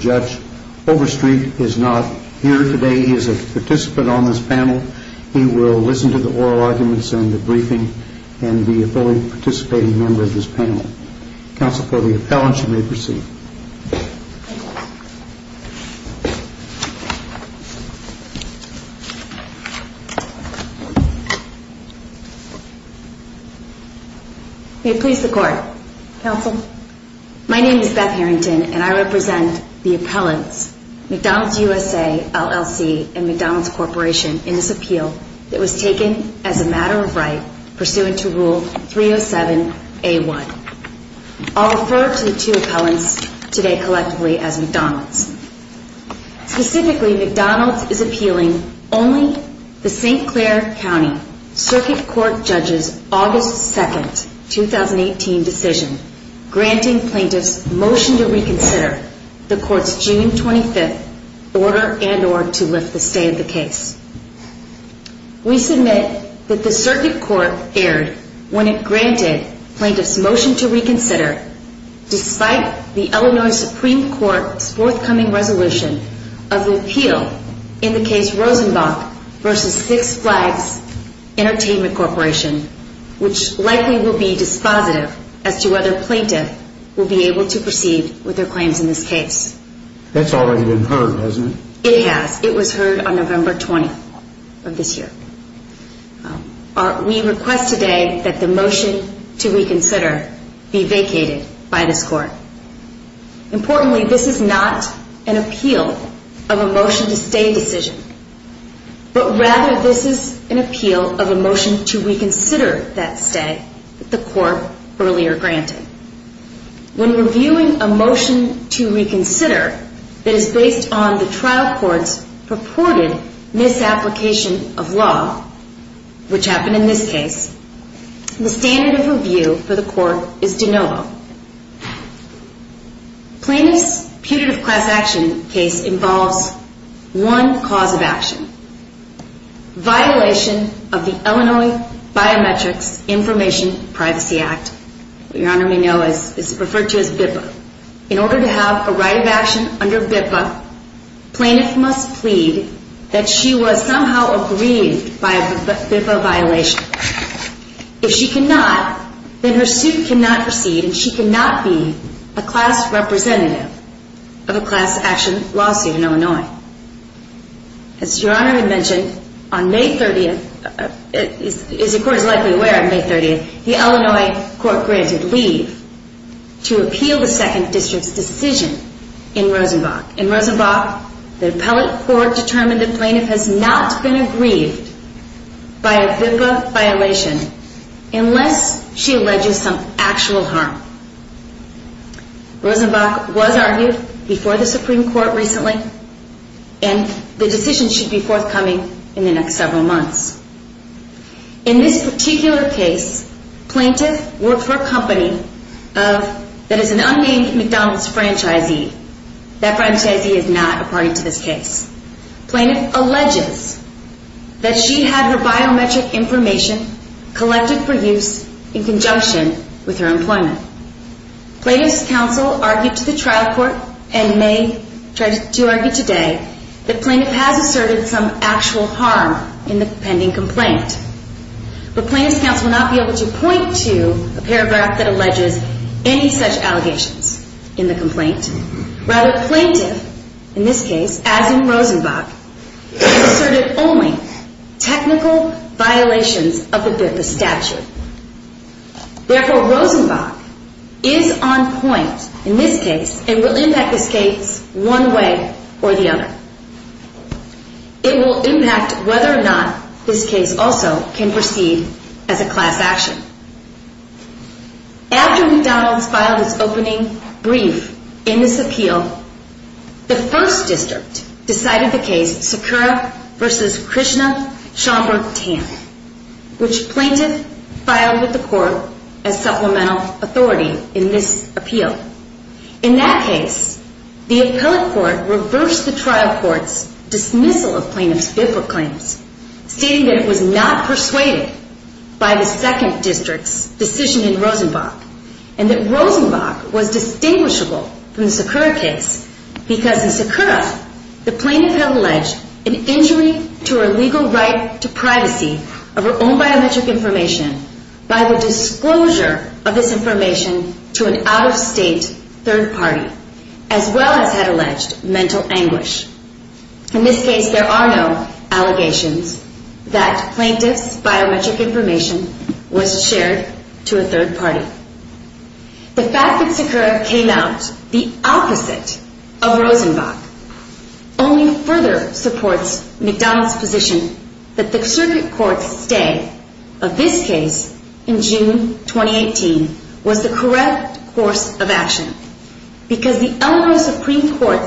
Judge Overstreet is not here today. He is a participant on this panel. He will listen to the oral arguments and the briefing and be a fully participating member of this panel. Counsel for the appellants you may proceed. May it please the court. Counsel. My name is Beth Harrington and I represent the appellants McDonalds USA, LLC and McDonalds Corporation in this appeal that was taken as a matter of right pursuant to Rule 307A1. I'll refer to the two appellants today collectively as McDonalds. Specifically, McDonalds is appealing only the St. Clair County Circuit Court Judge's August 2, 2018 decision granting plaintiffs motion to reconsider the court's June 25 order and or to lift the stay of the case. We submit that the Circuit Court erred when it granted plaintiffs motion to reconsider despite the Illinois Supreme Court's forthcoming resolution of the appeal in the case Rosenbach v. Six Flags Entertainment Corporation, which likely will be dispositive as to whether plaintiff will be able to proceed with their claims in this case. That's already been heard, hasn't it? It has. It was heard on November 20th of this year. We request today that the motion to reconsider be vacated by this court. Importantly, this is not an appeal of a motion to stay decision, but rather this is an appeal of a motion to reconsider that stay that the court earlier granted. When reviewing a motion to reconsider that is based on the trial court's purported misapplication of law, which happened in this case, the standard of review for the court is de novo. Plaintiff's putative class action case involves one cause of action, violation of the Illinois Biometrics Information Privacy Act, what Your Honor may know is referred to as BIPA. In order to have a right of action under BIPA, plaintiff must plead that she was somehow aggrieved by a BIPA violation. If she cannot, then her suit cannot proceed and she cannot be a class representative of a class action lawsuit in Illinois. As Your Honor had mentioned, on May 30th, as the court is likely aware on May 30th, the Illinois court granted leave to appeal the second district's decision in Rosenbach. In Rosenbach, the appellate court determined that plaintiff has not been aggrieved by a BIPA violation unless she alleges some actual harm. Rosenbach was argued before the Supreme Court recently and the decision should be forthcoming in the next several months. In this particular case, plaintiff worked for a company that is an unnamed McDonald's franchisee. That franchisee is not a party to this case. Plaintiff alleges that she had her biometric information collected for use in conjunction with her employment. Plaintiff's counsel argued to the trial court and may try to argue today that plaintiff has asserted some actual harm in the pending complaint. But plaintiff's counsel will not be able to point to a paragraph that alleges any such allegations in the complaint. Rather, plaintiff, in this case, as in Rosenbach, has asserted only technical violations of the BIPA statute. Therefore, Rosenbach is on point in this case and will impact this case one way or the other. It will impact whether or not this case also can proceed as a class action. After McDonald's filed its opening brief in this appeal, the first district decided the case Sakura v. Krishna Chamber 10, which plaintiff filed with the court as supplemental authority in this appeal. In that case, the appellate court reversed the trial court's dismissal of plaintiff's BIPA claims, stating that it was not persuaded by the second district's decision in Rosenbach, and that Rosenbach was distinguishable from the Sakura case because in Sakura, the plaintiff had alleged an injury to her legal right to privacy of her own biometric information by the disclosure of this information to an out-of-state third party, as well as had alleged mental anguish. In this case, there are no allegations that plaintiff's biometric information was shared to a third party. The fact that Sakura came out the opposite of Rosenbach only further supports McDonald's position that the circuit court's stay of this case in June 2018 was the correct course of action because the Illinois Supreme Court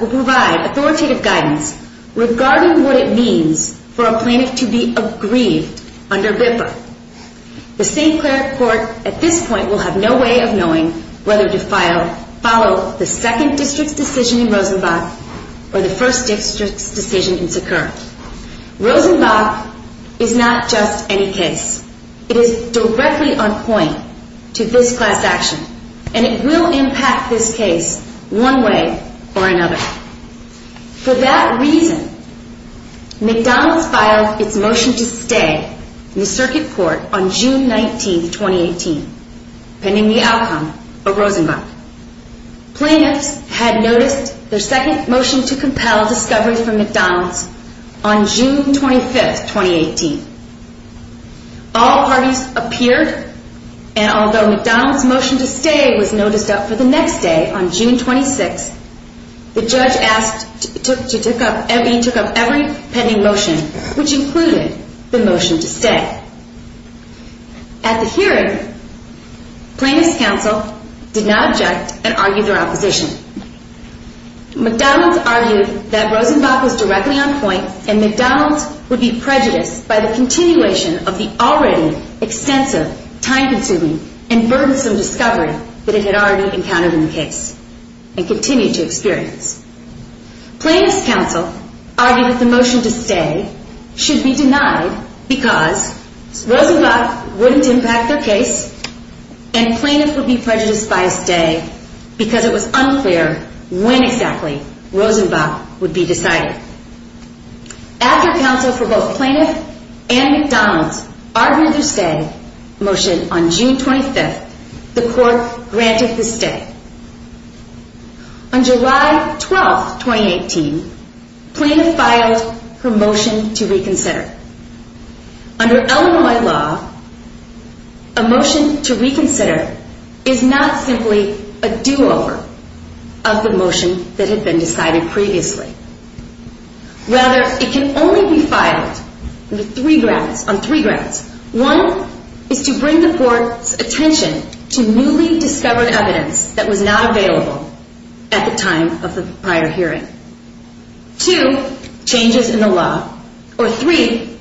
will provide authoritative guidance regarding what it means for a plaintiff to be aggrieved under BIPA. The St. Clair court at this point will have no way of knowing whether to follow the second district's decision in Rosenbach or the first district's decision in Sakura. Rosenbach is not just any case. It is directly on point to this class action, and it will impact this case one way or another. For that reason, McDonald's filed its motion to stay in the circuit court on June 19, 2018, pending the outcome of Rosenbach. Plaintiffs had noticed their second motion to compel discovery from McDonald's on June 25, 2018. All parties appeared, and although McDonald's motion to stay was noticed up for the next day on June 26, the judge took up every pending motion, which included the motion to stay. At the hearing, plaintiffs' counsel did not object and argued their opposition. McDonald's argued that Rosenbach was directly on point, and McDonald's would be prejudiced by the continuation of the already extensive, time-consuming, and burdensome discovery that it had already encountered in the case and continued to experience. Plaintiffs' counsel argued that the motion to stay should be denied because Rosenbach wouldn't impact their case, and plaintiffs would be prejudiced by a stay because it was unclear when exactly Rosenbach would be decided. After counsel for both plaintiffs and McDonald's argued their stay motion on June 25, the court granted the stay. On July 12, 2018, plaintiffs filed their motion to reconsider. Under Illinois law, a motion to reconsider is not simply a do-over of the motion that had been decided previously. Rather, it can only be filed on three grounds. One is to bring the court's attention to newly discovered evidence that was not available at the time of the prior hearing. Two, changes in the law. Or three,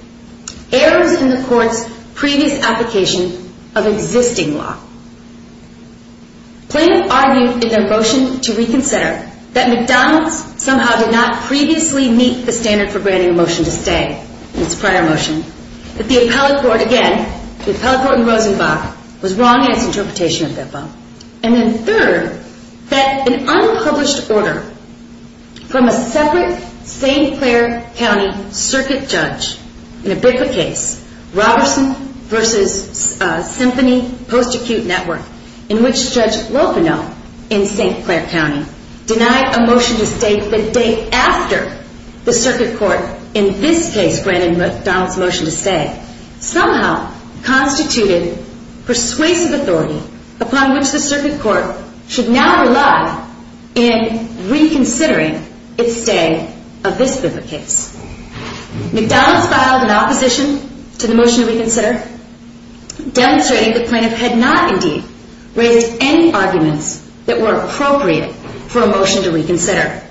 errors in the court's previous application of existing law. Plaintiffs argued in their motion to reconsider that McDonald's somehow did not previously meet the standard for granting a motion to stay, its prior motion, that the appellate court, again, the appellate court and Rosenbach, was wrong in its interpretation of BIPOC. And then third, that an unpublished order from a separate St. Clair County circuit judge in a BIPOC case, Roberson v. Symphony Post-Acute Network, in which Judge Lopinow in St. Clair County denied a motion to stay the day after the circuit court, in this case granted McDonald's motion to stay, somehow constituted persuasive authority upon which the circuit court should now rely in reconsidering its stay of this BIPOC case. McDonald's filed an opposition to the motion to reconsider, demonstrating the plaintiff had not, indeed, raised any arguments that were appropriate for a motion to reconsider.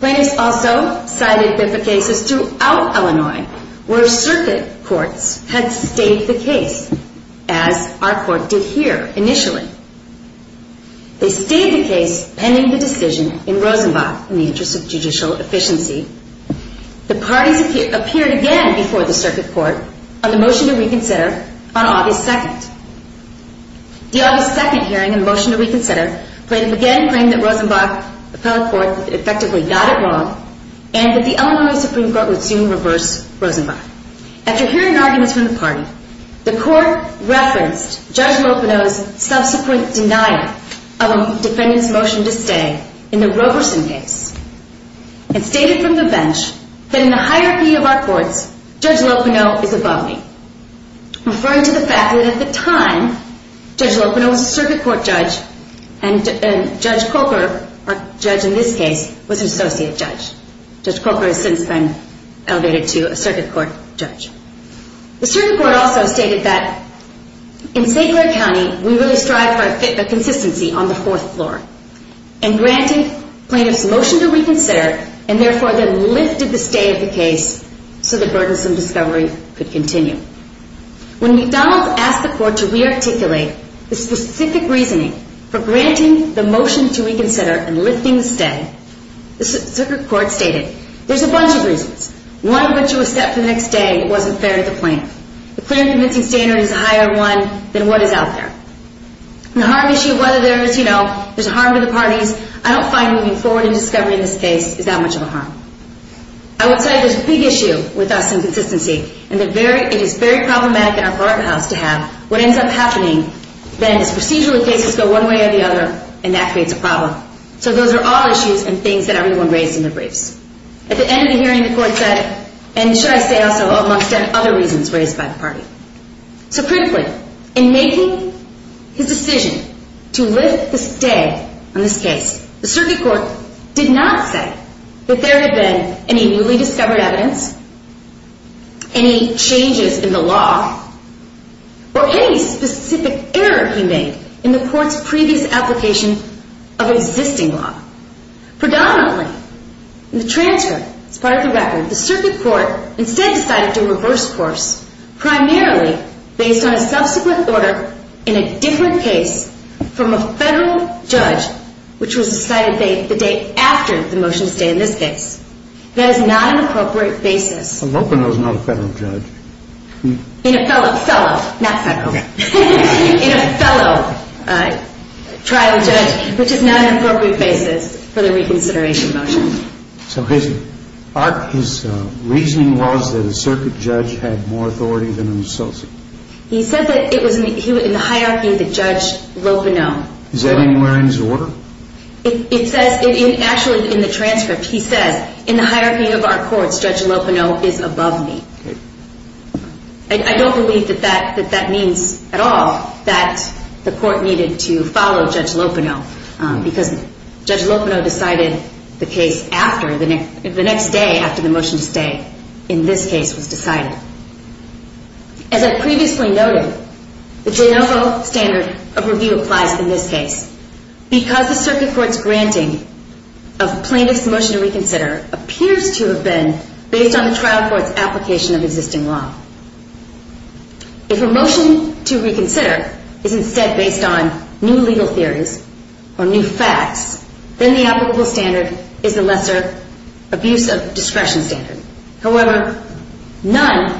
Plaintiffs also cited BIPOC cases throughout Illinois where circuit courts had stayed the case, as our court did here initially. They stayed the case pending the decision in Rosenbach in the interest of judicial efficiency. The parties appeared again before the circuit court on the motion to reconsider on August 2nd. The August 2nd hearing on the motion to reconsider, plaintiff again claimed that Rosenbach appellate court effectively got it wrong, and that the Illinois Supreme Court would soon reverse Rosenbach. After hearing arguments from the party, the court referenced Judge Lopinow's subsequent denial of a defendant's motion to stay in the Roberson case, and stated from the bench that in the hierarchy of our courts, Judge Lopinow is above me, referring to the fact that at the time, Judge Lopinow was a circuit court judge, and Judge Coker, our judge in this case, was an associate judge. Judge Coker has since been elevated to a circuit court judge. The circuit court also stated that in St. Clair County, we really strive for a consistency on the fourth floor, and granted plaintiff's motion to reconsider, and therefore then lifted the stay of the case so the burdensome discovery could continue. When McDonald's asked the court to re-articulate the specific reasoning for granting the motion to reconsider and lifting the stay, the circuit court stated, there's a bunch of reasons. One of which was that for the next day, it wasn't fair to the plaintiff. The clear and convincing standard is a higher one than what is out there. The harm issue, whether there is, you know, there's harm to the parties, I don't find moving forward in discovery in this case is that much of a harm. I would say there's a big issue with us and consistency, and it is very problematic in our courthouse to have what ends up happening, then as procedural cases go one way or the other, and that creates a problem. So those are all issues and things that everyone raised in their briefs. At the end of the hearing, the court said, and should I say also, amongst other reasons raised by the party. So critically, in making his decision to lift the stay on this case, the circuit court did not say that there had been any newly discovered evidence, any changes in the law, or any specific error he made in the court's previous application of existing law. Predominantly, in the transcript, as part of the record, the circuit court instead decided to reverse course, primarily based on a subsequent order in a different case from a federal judge, which was decided the day after the motion to stay in this case. That is not an appropriate basis. I'm hoping that was not a federal judge. In a fellow, not federal, in a fellow trial judge, which is not an appropriate basis for the reconsideration motion. So his reasoning was that a circuit judge had more authority than an associate? He said that it was in the hierarchy of the Judge Lopino. Is that anywhere in his order? It says, actually, in the transcript, he says, in the hierarchy of our courts, Judge Lopino is above me. I don't believe that that means at all that the court needed to follow Judge Lopino, because Judge Lopino decided the case the next day after the motion to stay in this case was decided. As I previously noted, the JNOFO standard of review applies in this case because the circuit court's granting of plaintiff's motion to reconsider appears to have been based on the trial court's application of existing law. If a motion to reconsider is instead based on new legal theories, or new facts, then the applicable standard is the lesser abuse of discretion standard. However, none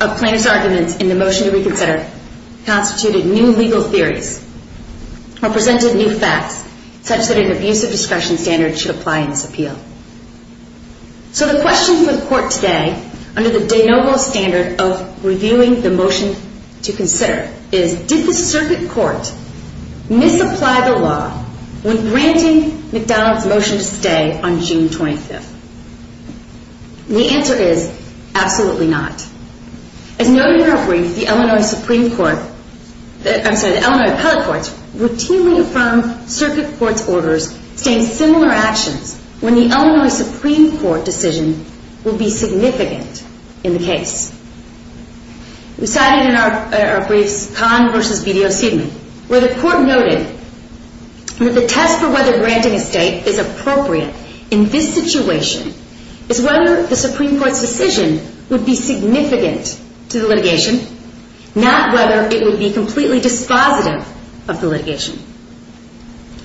of plaintiff's arguments in the motion to reconsider constituted new legal theories, or presented new facts, such that an abuse of discretion standard should apply in this appeal. So the question for the court today, under the JNOFO standard of reviewing the motion to consider, is, did the circuit court misapply the law when granting McDonald's motion to stay on June 25th? The answer is, absolutely not. As noted in our brief, the Illinois Supreme Court, I'm sorry, the Illinois Appellate Courts, routinely affirm circuit court's orders stating similar actions when the Illinois Supreme Court decision will be significant in the case. We cited in our briefs Conn v. BDO Seidman, where the court noted that the test for whether granting a state is appropriate in this situation is whether the Supreme Court's decision would be significant to the litigation, not whether it would be completely dispositive of the litigation.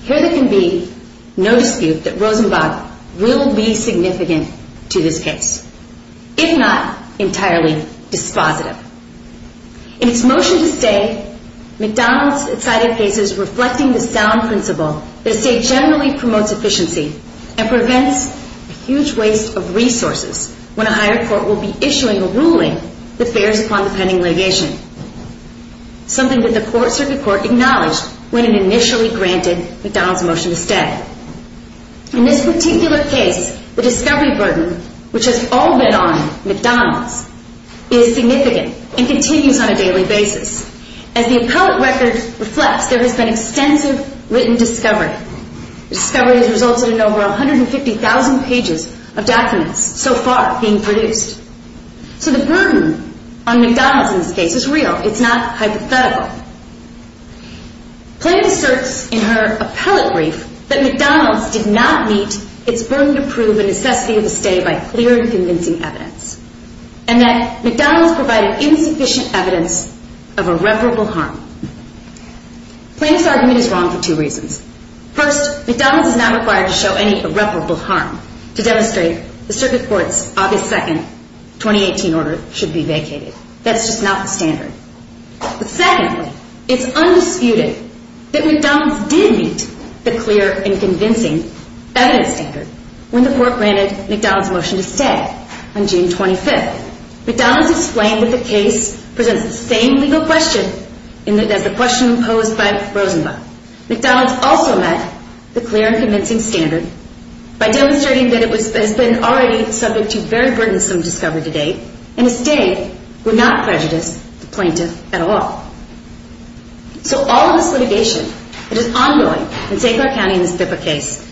Here there can be no dispute that Rosenbach will be significant to this case, if not entirely dispositive. In its motion to stay, McDonald's cited cases reflecting the sound principle that a state generally promotes efficiency and prevents a huge waste of resources when a higher court will be issuing a ruling that bears upon the pending litigation, something that the circuit court acknowledged when it initially granted McDonald's motion to stay. In this particular case, the discovery burden, which has all been on McDonald's, is significant and continues on a daily basis. As the appellate record reflects, there has been extensive written discovery. The discovery has resulted in over 150,000 pages of documents so far being produced. So the burden on McDonald's in this case is real. It's not hypothetical. Plante asserts in her appellate brief that McDonald's did not meet its burden to prove the necessity of a stay by clear and convincing evidence, and that McDonald's provided insufficient evidence of irreparable harm. Plante's argument is wrong for two reasons. First, McDonald's is not required to show any irreparable harm to demonstrate the circuit court's obvious second 2018 order should be vacated. That's just not the standard. Secondly, it's undisputed that McDonald's did meet the clear and convincing evidence standard when the court granted McDonald's motion to stay on June 25th. McDonald's explained that the case presents the same legal question as the question posed by Rosenblatt. McDonald's also met the clear and convincing standard by demonstrating that it has been already subject to very burdensome discovery to date and a stay would not prejudice the plaintiff at all. So all of this litigation that is ongoing in St. Clair County in this BIPA case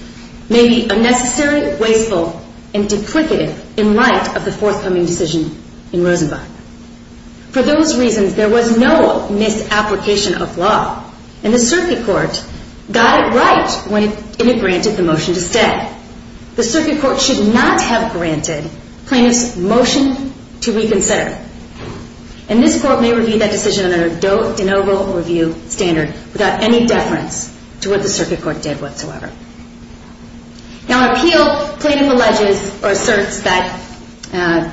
may be unnecessary, wasteful, and duplicative in light of the forthcoming decision in Rosenblatt. For those reasons, there was no misapplication of law, and the circuit court got it right when it granted the motion to stay. Yet, the circuit court should not have granted plaintiff's motion to reconsider. And this court may review that decision under a de novo review standard without any deference to what the circuit court did whatsoever. Now, in appeal, the plaintiff alleges or asserts that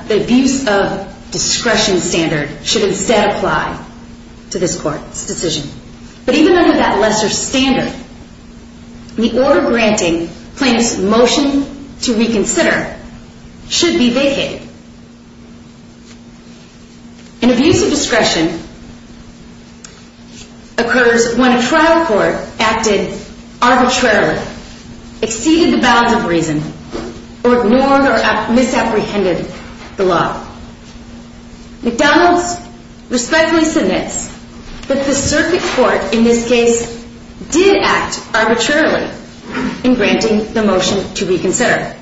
the abuse of discretion standard should instead apply to this court's decision. But even under that lesser standard, the order granting plaintiff's motion to reconsider should be vacated. An abuse of discretion occurs when a trial court acted arbitrarily, exceeded the bounds of reason, or ignored or misapprehended the law. McDonald's respectfully submits that the circuit court in this case did act arbitrarily in granting the motion to reconsider.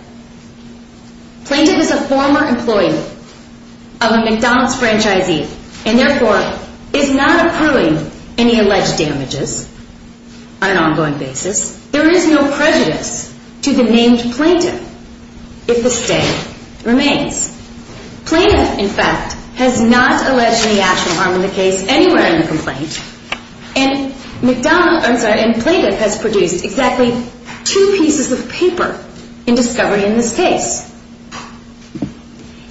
Plaintiff is a former employee of a McDonald's franchisee and therefore is not accruing any alleged damages on an ongoing basis. There is no prejudice to the named plaintiff if the stand remains. Plaintiff, in fact, has not alleged any actual harm in the case anywhere in the complaint. And McDonald's, I'm sorry, and plaintiff has produced exactly two pieces of paper in discovery in this case.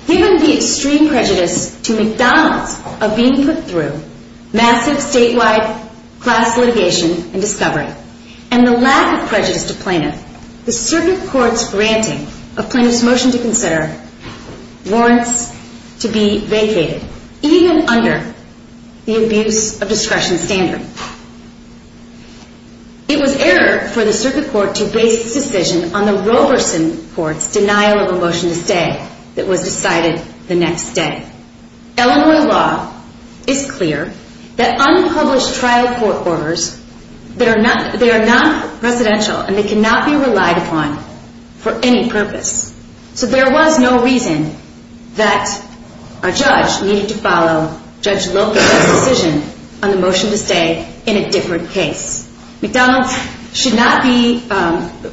Given the extreme prejudice to McDonald's of being put through massive statewide class litigation and discovery, and the lack of prejudice to plaintiff, the circuit court's granting of plaintiff's motion to consider warrants to be vacated, even under the abuse of discretion standard. It was error for the circuit court to base its decision on the Roberson court's denial of a motion to stay that was decided the next day. Illinois law is clear that unpublished trial court orders, they are non-presidential and they cannot be relied upon for any purpose. So there was no reason that a judge needed to follow Judge Locke's decision on the motion to stay in a different case. McDonald's should not be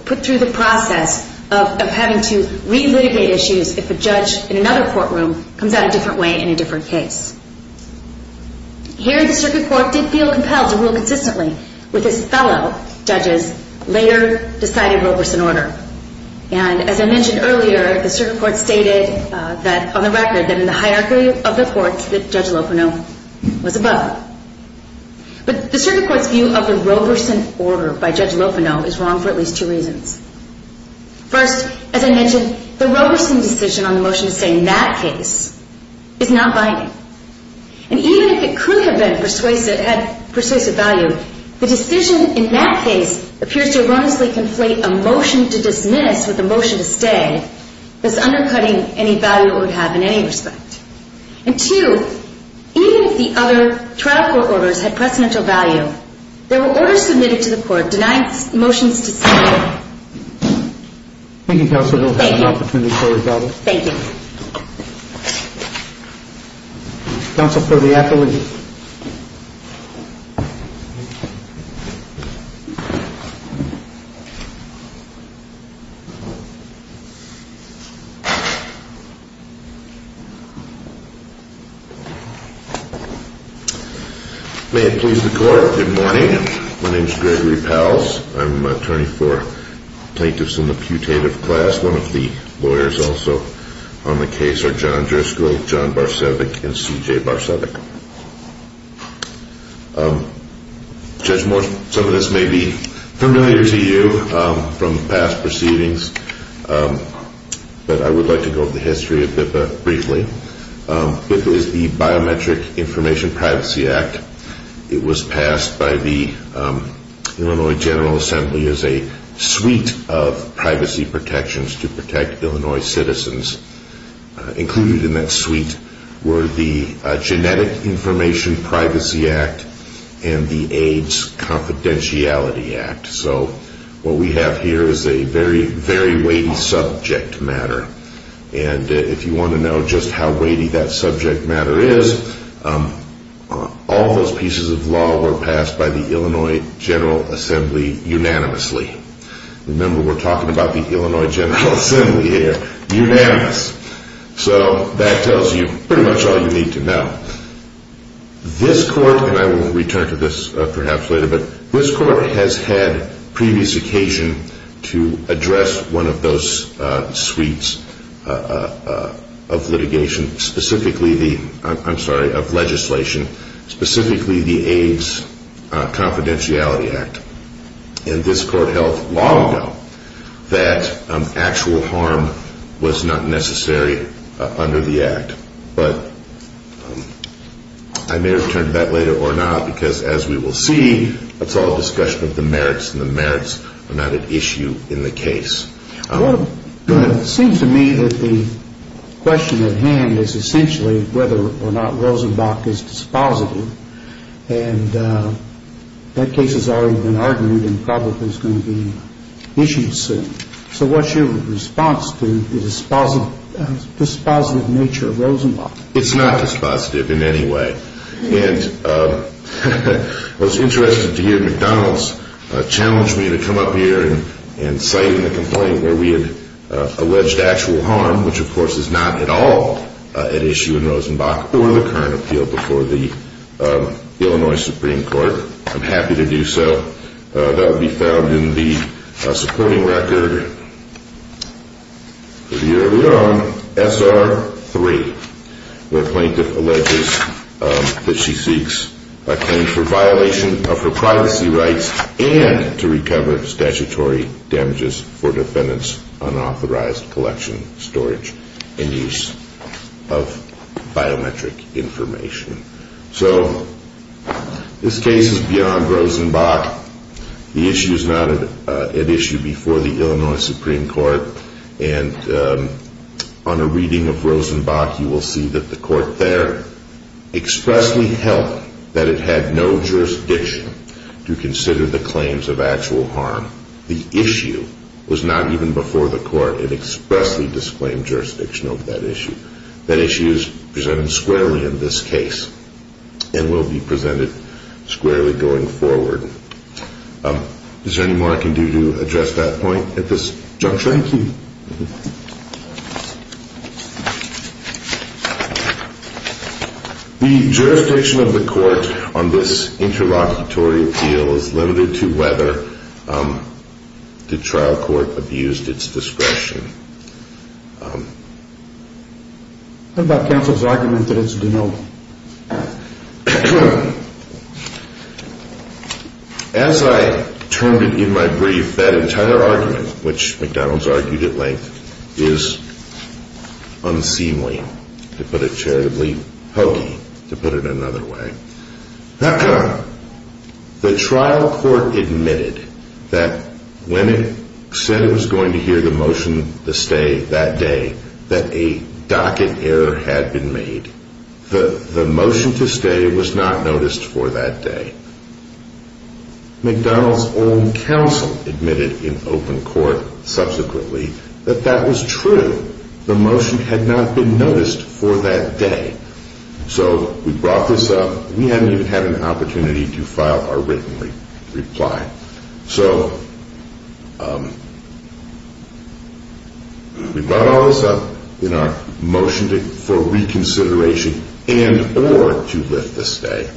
put through the process of having to relitigate issues if a judge in another courtroom comes out a different way in a different case. Here, the circuit court did feel compelled to rule consistently with his fellow judges' later decided Roberson order. And as I mentioned earlier, the circuit court stated on the record that in the hierarchy of the courts that Judge Lopino was above. But the circuit court's view of the Roberson order by Judge Lopino is wrong for at least two reasons. First, as I mentioned, the Roberson decision on the motion to stay in that case is not binding. And even if it could have been persuasive, had persuasive value, the decision in that case appears to erroneously conflate a motion to dismiss with a motion to stay as undercutting any value it would have in any respect. And two, even if the other trial court orders had precedential value, there were orders submitted to the court denying motions to stay. Thank you, counsel. We'll have an opportunity for rebuttal. Thank you. Counsel for the appellate. May it please the court. Good morning. My name is Gregory Pals. I'm an attorney for plaintiffs in the putative class. One of the lawyers also on the case are John Driscoll, John Barsevic, and C.J. Barsevic. Judge Morse, some of this may be familiar to you from past proceedings, but I would like to go over the history of BIPA briefly. BIPA is the Biometric Information Privacy Act. It was passed by the Illinois General Assembly as a suite of privacy protections to protect Illinois citizens. Included in that suite were the Genetic Information Privacy Act and the AIDS Confidentiality Act. So what we have here is a very, very weighty subject matter. And if you want to know just how weighty that subject matter is, all those pieces of law were passed by the Illinois General Assembly unanimously. Remember, we're talking about the Illinois General Assembly here. Unanimous. So that tells you pretty much all you need to know. This court, and I will return to this perhaps later, but this court has had previous occasion to address one of those suites of litigation, I'm sorry, of legislation, specifically the AIDS Confidentiality Act. And this court held long ago that actual harm was not necessary under the act. But I may return to that later or not, because as we will see, it's all a discussion of the merits, and the merits are not at issue in the case. It seems to me that the question at hand is essentially whether or not Rosenbach is dispositive. And that case has already been argued and probably is going to be issued soon. So what's your response to the dispositive nature of Rosenbach? It's not dispositive in any way. And I was interested to hear McDonald's challenge me to come up here and cite in the complaint where we had alleged actual harm, which of course is not at all at issue in Rosenbach or the current appeal before the Illinois Supreme Court. I'm happy to do so. That will be found in the supporting record pretty early on, SR3, where a plaintiff alleges that she seeks a claim for violation of her privacy rights and to recover statutory damages for defendants' unauthorized collection, storage, and use of biometric information. So this case is beyond Rosenbach. The issue is not at issue before the Illinois Supreme Court. And on a reading of Rosenbach, you will see that the court there expressly held that it had no jurisdiction to consider the claims of actual harm. The issue was not even before the court. It expressly disclaimed jurisdiction over that issue. That issue is presented squarely in this case and will be presented squarely going forward. Is there any more I can do to address that point at this juncture? Thank you. The jurisdiction of the court on this interlocutory appeal is limited to whether the trial court abused its discretion. What about counsel's argument that it's denial? As I termed it in my brief, that entire argument, which McDonald's argued at length, is unseemly, to put it charitably, hokey, to put it another way. The trial court admitted that when it said it was going to hear the motion to stay that day, that a docket error had been made. The motion to stay was not noticed for that day. McDonald's own counsel admitted in open court subsequently that that was true. The motion had not been noticed for that day. So we brought this up. We hadn't even had an opportunity to file our written reply. So we brought all this up in our motion for reconsideration and or to lift the stay.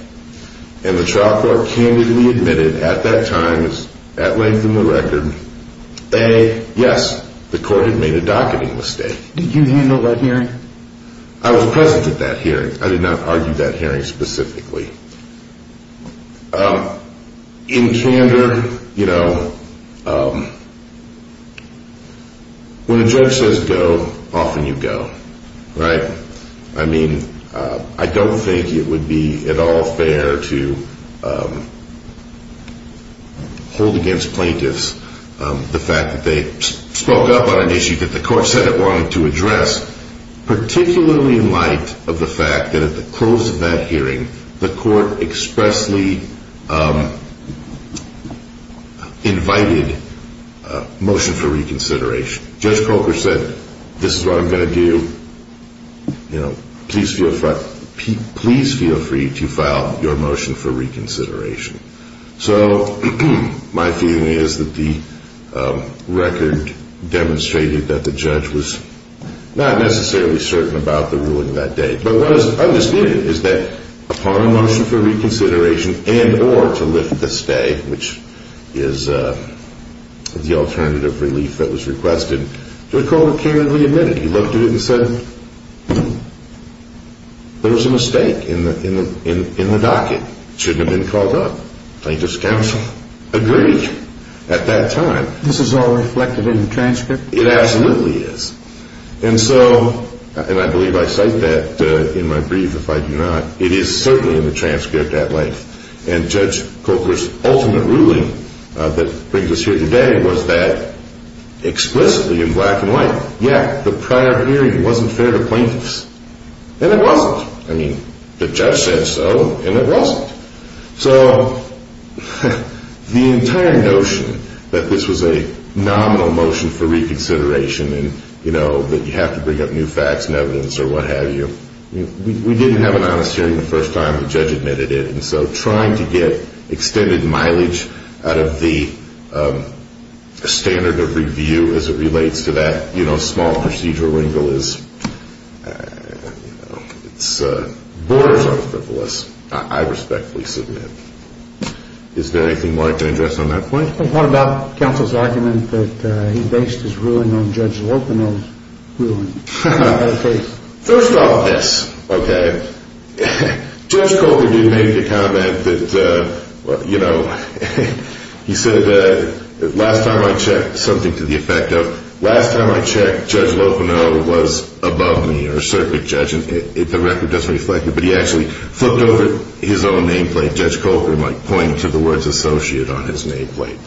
And the trial court candidly admitted at that time, at length in the record, that yes, the court had made a docketing mistake. Did you handle that hearing? I was present at that hearing. I did not argue that hearing specifically. In candor, you know, when a judge says go, often you go, right? I mean, I don't think it would be at all fair to hold against plaintiffs the fact that they spoke up on an issue that the court said it wanted to address, particularly in light of the fact that at the close of that hearing, the court expressly invited a motion for reconsideration. Judge Colker said, this is what I'm going to do. You know, please feel free to file your motion for reconsideration. So my feeling is that the record demonstrated that the judge was not necessarily certain about the ruling that day. But what is understood is that upon a motion for reconsideration and or to lift the stay, which is the alternative relief that was requested, Judge Colker candidly admitted. He looked at it and said there was a mistake in the docket. It shouldn't have been called up. Plaintiffs' counsel agreed at that time. This is all reflected in the transcript? It absolutely is. And so, and I believe I cite that in my brief if I do not, it is certainly in the transcript at length. And Judge Colker's ultimate ruling that brings us here today was that explicitly in black and white, yeah, the prior hearing wasn't fair to plaintiffs. And it wasn't. I mean, the judge said so, and it wasn't. So the entire notion that this was a nominal motion for reconsideration and, you know, that you have to bring up new facts and evidence or what have you, we didn't have an honest hearing the first time the judge admitted it. And so trying to get extended mileage out of the standard of review as it relates to that, you know, Is there anything more I can address on that point? What about counsel's argument that he based his ruling on Judge Lopino's ruling? First off, yes. Okay. Judge Colker did make the comment that, you know, he said last time I checked, something to the effect of last time I checked, Judge Lopino was above me, the record doesn't reflect it, but he actually flipped over his own nameplate. Judge Colker might point to the words associate on his nameplate.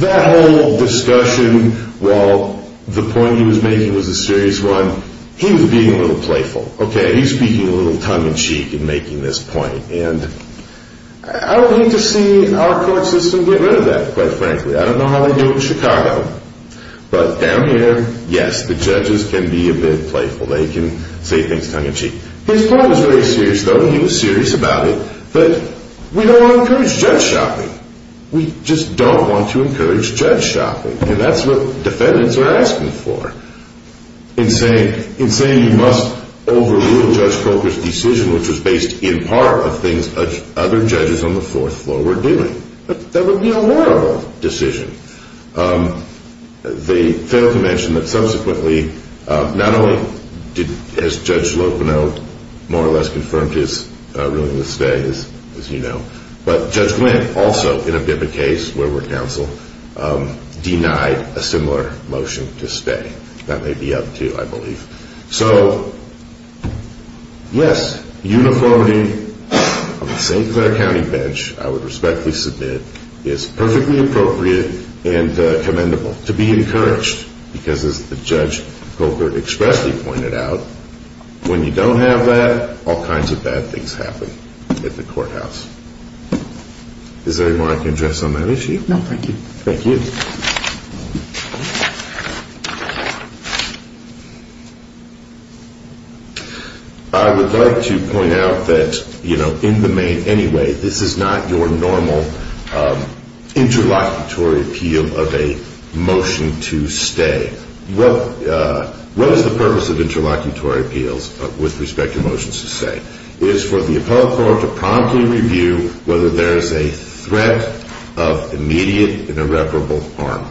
That whole discussion, while the point he was making was a serious one, he was being a little playful. Okay, he was speaking a little tongue-in-cheek in making this point. And I don't hate to see our court system get rid of that, quite frankly. I don't know how they do it in Chicago. But down here, yes, the judges can be a bit playful. They can say things tongue-in-cheek. His point was very serious, though. He was serious about it. But we don't want to encourage judge shopping. We just don't want to encourage judge shopping. And that's what defendants are asking for in saying you must overrule Judge Colker's decision, which was based in part of things other judges on the fourth floor were doing. That would be a horrible decision. They failed to mention that subsequently not only has Judge Lopino more or less confirmed his ruling to stay, as you know, but Judge Glynn also, in a BIPA case where we're counsel, denied a similar motion to stay. That may be up, too, I believe. So, yes, uniformity on the St. Clair County bench, I would respectfully submit, is perfectly appropriate and commendable to be encouraged because, as Judge Colker expressly pointed out, when you don't have that, all kinds of bad things happen at the courthouse. Is there anymore I can address on that issue? No, thank you. Thank you. I would like to point out that, you know, in the main anyway, this is not your normal interlocutory appeal of a motion to stay. What is the purpose of interlocutory appeals with respect to motions to stay? It is for the appellate court to promptly review whether there is a threat of immediate and irreparable harm.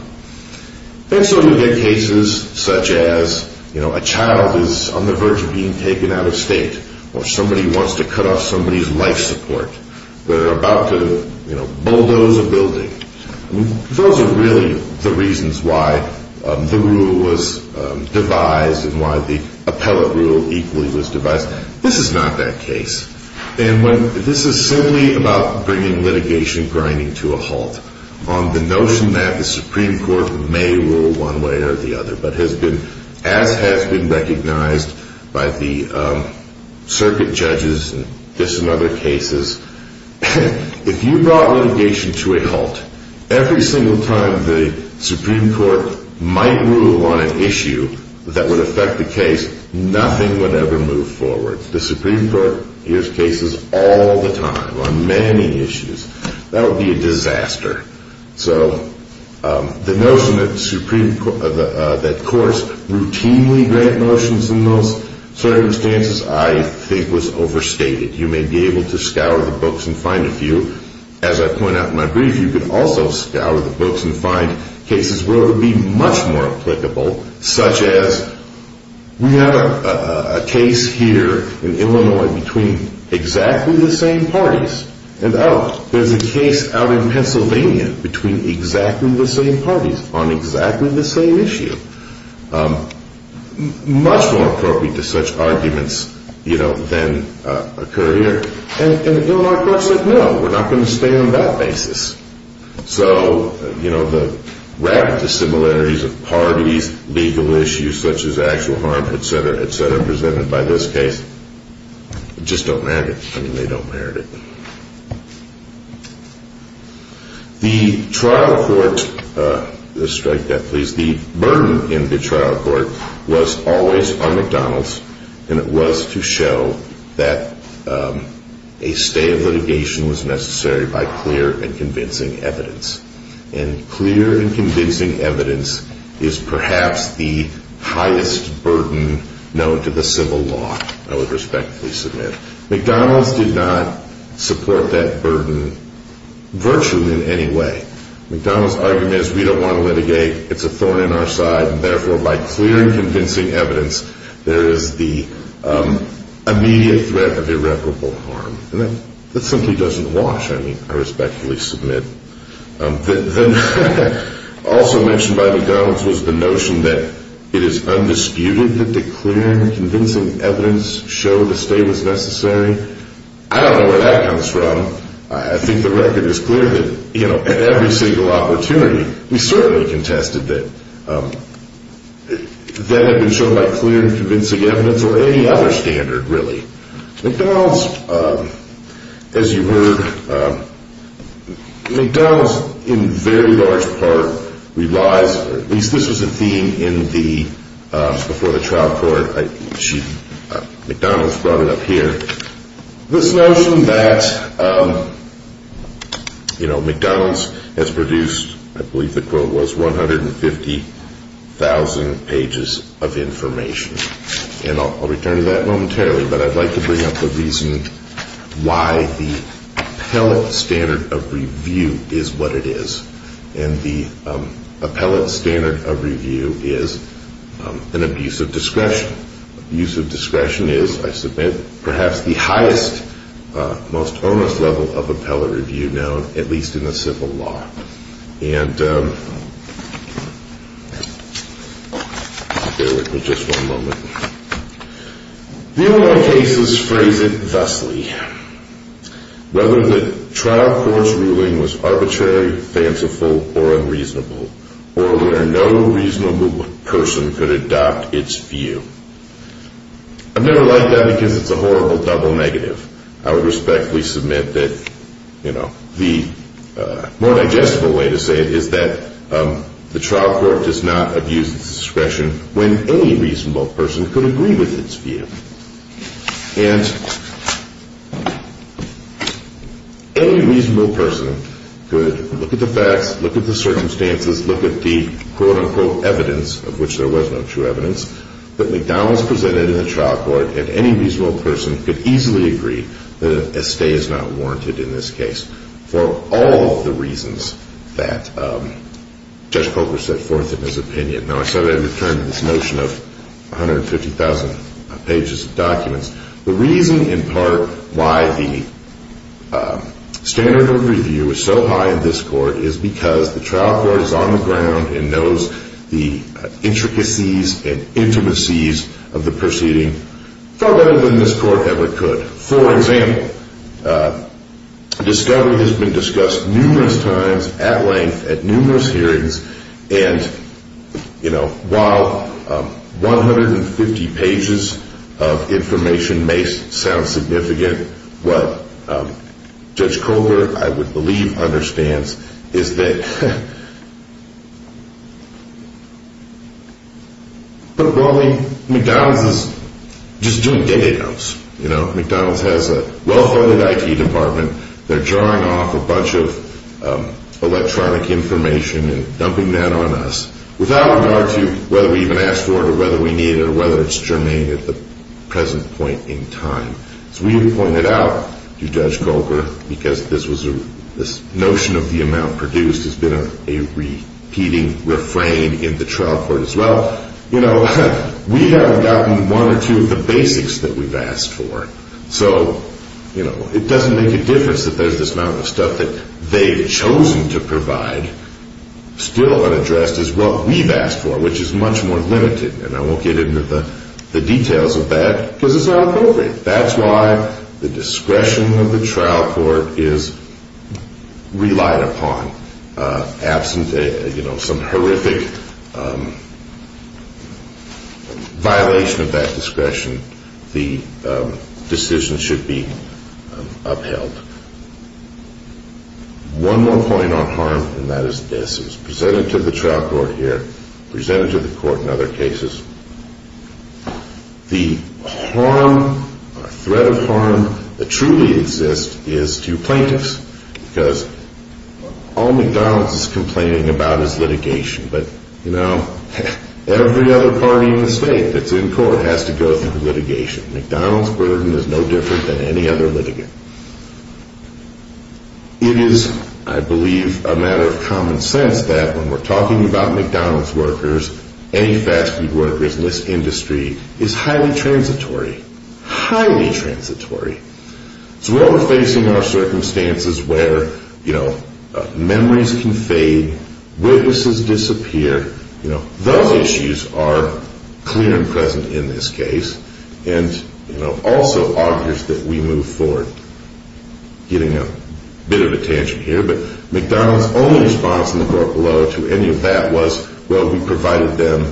And so you get cases such as, you know, a child is on the verge of being taken out of state or somebody wants to cut off somebody's life support. They're about to, you know, bulldoze a building. Those are really the reasons why the rule was devised and why the appellate rule equally was devised. This is not that case. And when this is simply about bringing litigation grinding to a halt on the notion that the Supreme Court may rule one way or the other, but has been, as has been recognized by the circuit judges and this and other cases, if you brought litigation to a halt, every single time the Supreme Court might rule on an issue that would affect the case, nothing would ever move forward. The Supreme Court hears cases all the time on many issues. That would be a disaster. So the notion that courts routinely grant motions in those circumstances I think was overstated. You may be able to scour the books and find a few. As I point out in my brief, you could also scour the books and find cases where it would be much more applicable, such as we have a case here in Illinois between exactly the same parties. And, oh, there's a case out in Pennsylvania between exactly the same parties on exactly the same issue. Much more appropriate to such arguments, you know, than occur here. And the Illinois court said, no, we're not going to stay on that basis. So, you know, the rapid dissimilarities of parties, legal issues such as actual harm, et cetera, et cetera, The trial court, let's strike that, please. The burden in the trial court was always on McDonald's, and it was to show that a stay of litigation was necessary by clear and convincing evidence. And clear and convincing evidence is perhaps the highest burden known to the civil law, I would respectfully submit. McDonald's did not support that burden virtually in any way. McDonald's argument is we don't want to litigate, it's a thorn in our side, and therefore by clear and convincing evidence there is the immediate threat of irreparable harm. And that simply doesn't wash, I mean, I respectfully submit. Also mentioned by McDonald's was the notion that it is undisputed that the clear and convincing evidence showed a stay was necessary. I don't know where that comes from. I think the record is clear that, you know, at every single opportunity, we certainly contested that that had been shown by clear and convincing evidence or any other standard, really. McDonald's, as you heard, McDonald's in very large part relies, or at least this was a theme before the trial court, McDonald's brought it up here, this notion that, you know, McDonald's has produced, I believe the quote was, 150,000 pages of information. And I'll return to that momentarily, but I'd like to bring up the reason why the appellate standard of review is what it is, and the appellate standard of review is an abuse of discretion. Abuse of discretion is, I submit, perhaps the highest, most onus level of appellate review known, at least in the civil law. And bear with me just one moment. The O.I. cases phrase it thusly, whether the trial court's ruling was arbitrary, fanciful, or unreasonable, or where no reasonable person could adopt its view. I've never liked that because it's a horrible double negative. I would respectfully submit that, you know, the more digestible way to say it is that the trial court does not abuse its discretion when any reasonable person could agree with its view. And any reasonable person could look at the facts, look at the circumstances, look at the quote-unquote evidence, of which there was no true evidence, that McDonald's presented in the trial court, and any reasonable person could easily agree that a stay is not warranted in this case for all of the reasons that Judge Coker set forth in his opinion. Now, I said I'd return to this notion of 150,000 pages of documents. The reason, in part, why the standard of review is so high in this court is because the trial court is on the ground and knows the intricacies and intimacies of the proceeding far better than this court ever could. For example, discovery has been discussed numerous times, at length, at numerous hearings, and, you know, while 150 pages of information may sound significant, what Judge Coker, I would believe, understands is that, well, McDonald's is just doing day-to-day counts. You know, McDonald's has a well-funded IT department. They're drawing off a bunch of electronic information and dumping that on us without regard to whether we even asked for it or whether we need it or whether it's germane at the present point in time. As we have pointed out to Judge Coker, because this notion of the amount produced has been a repeating refrain in the trial court as well, you know, we haven't gotten one or two of the basics that we've asked for. So, you know, it doesn't make a difference that there's this amount of stuff that they've chosen to provide still unaddressed as what we've asked for, which is much more limited. And I won't get into the details of that because it's not appropriate. That's why the discretion of the trial court is relied upon. Absent, you know, some horrific violation of that discretion, the decision should be upheld. One more point on harm, and that is this. It's presented to the trial court here, presented to the court in other cases. The harm or threat of harm that truly exists is to plaintiffs because all McDonald's is complaining about is litigation. But, you know, every other party in the state that's in court has to go through litigation. McDonald's burden is no different than any other litigant. It is, I believe, a matter of common sense that when we're talking about McDonald's workers, any fast food workers in this industry is highly transitory, highly transitory. So while we're facing our circumstances where, you know, memories can fade, witnesses disappear, you know, those issues are clear and present in this case, and, you know, also augurs that we move forward. Getting a bit of attention here, but McDonald's only response in the court below to any of that was, well, we provided them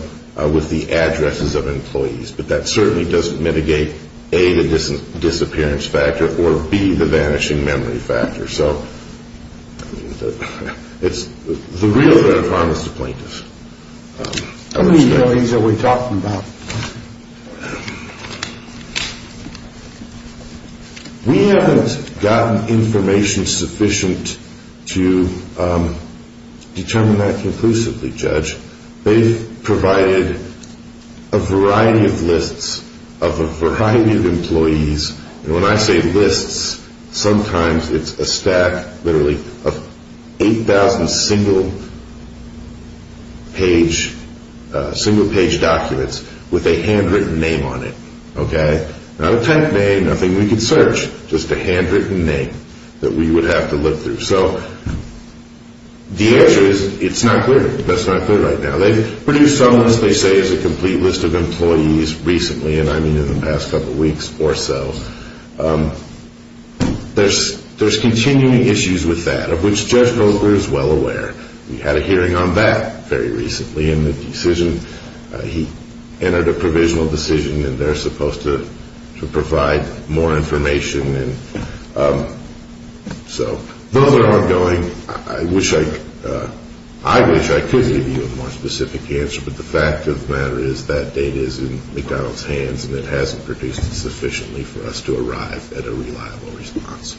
with the addresses of employees. But that certainly doesn't mitigate, A, the disappearance factor or, B, the vanishing memory factor. So it's the real threat of harm is to plaintiffs. How many employees are we talking about? We haven't gotten information sufficient to determine that conclusively, Judge. They've provided a variety of lists of a variety of employees. And when I say lists, sometimes it's a stack, literally 8,000 single-page documents. With a handwritten name on it, okay? Not a type name, nothing we could search. Just a handwritten name that we would have to look through. So the answer is it's not clear. That's not clear right now. They've produced some list they say is a complete list of employees recently, and I mean in the past couple weeks or so. There's continuing issues with that, of which Judge Goldberg is well aware. We had a hearing on that very recently in the decision. He entered a provisional decision, and they're supposed to provide more information. So those are ongoing. I wish I could give you a more specific answer, but the fact of the matter is that data is in McDonald's hands, and it hasn't produced sufficiently for us to arrive at a reliable response. Thank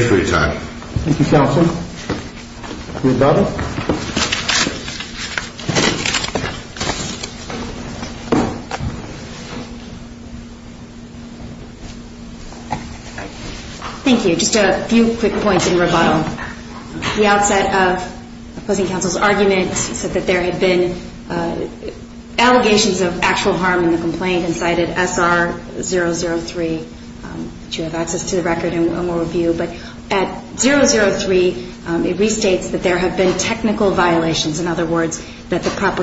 you. Thank you for your time. Thank you, Counsel. Rebuttal. Thank you. Just a few quick points in rebuttal. At the outset of opposing counsel's argument, he said that there had been allegations of actual harm in the complaint and cited SR003. You have access to the record, and we'll review. But at 003, it restates that there have been technical violations. In other words, that the proper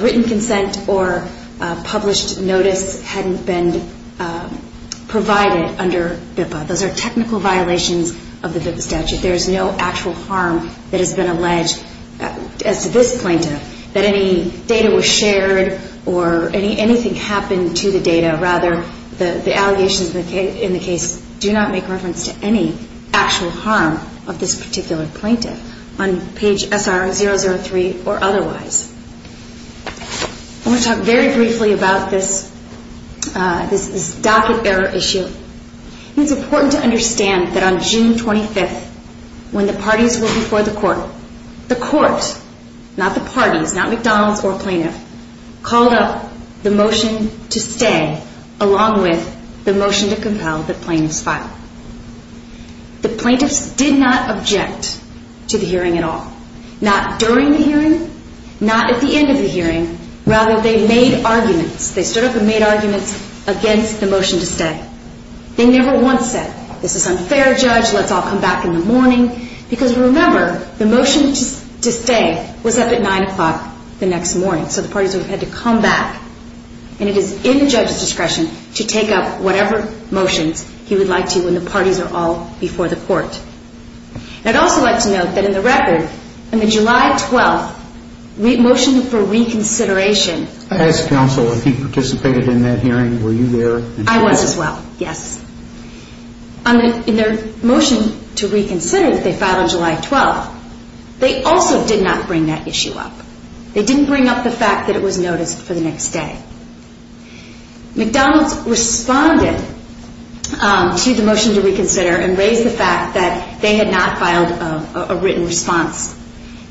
written consent or published notice hadn't been provided under BIPA. Those are technical violations of the BIPA statute. There is no actual harm that has been alleged as to this plaintiff, that any data was shared or anything happened to the data. Rather, the allegations in the case do not make reference to any actual harm of this particular plaintiff on page SR003 or otherwise. I want to talk very briefly about this docket error issue. It's important to understand that on June 25th, when the parties were before the court, the court, not the parties, not McDonald's or plaintiff, called up the motion to stay along with the motion to compel the plaintiff's file. The plaintiffs did not object to the hearing at all. Not during the hearing, not at the end of the hearing. Rather, they made arguments. They stood up and made arguments against the motion to stay. They never once said, this is unfair, Judge, let's all come back in the morning. Because remember, the motion to stay was up at 9 o'clock the next morning. So the parties had to come back. And it is in the judge's discretion to take up whatever motions he would like to when the parties are all before the court. I'd also like to note that in the record, on the July 12th, motion for reconsideration. I asked counsel if he participated in that hearing. Were you there? I was as well, yes. In their motion to reconsider that they filed on July 12th, they also did not bring that issue up. They didn't bring up the fact that it was noticed for the next day. McDonald's responded to the motion to reconsider and raised the fact that they had not filed a written response.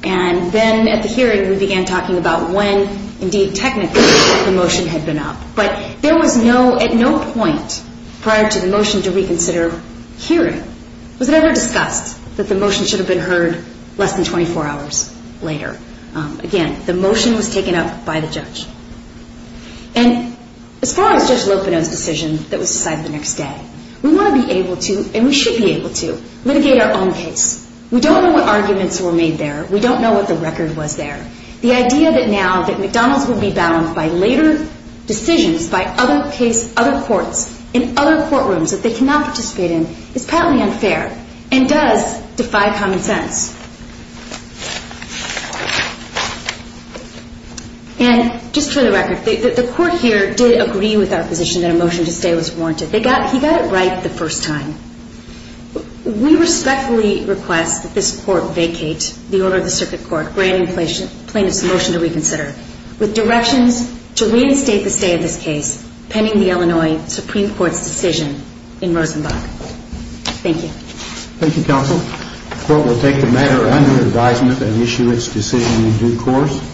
And then at the hearing, we began talking about when, indeed, technically, the motion had been up. But there was no, at no point, prior to the motion to reconsider, hearing. It was never discussed that the motion should have been heard less than 24 hours later. Again, the motion was taken up by the judge. And as far as Judge Lopino's decision that was decided the next day, we want to be able to, and we should be able to, litigate our own case. We don't know what arguments were made there. We don't know what the record was there. The idea that now that McDonald's will be bound by later decisions by other courts in other courtrooms that they cannot participate in is patently unfair and does defy common sense. And just for the record, the court here did agree with our position that a motion to stay was warranted. He got it right the first time. We respectfully request that this court vacate the order of the circuit court granting plaintiffs a motion to reconsider with directions to reinstate the stay of this case pending the Illinois Supreme Court's decision in Rosenbach. Thank you. Thank you, counsel. The court will take the matter under advisement and issue its decision in due course.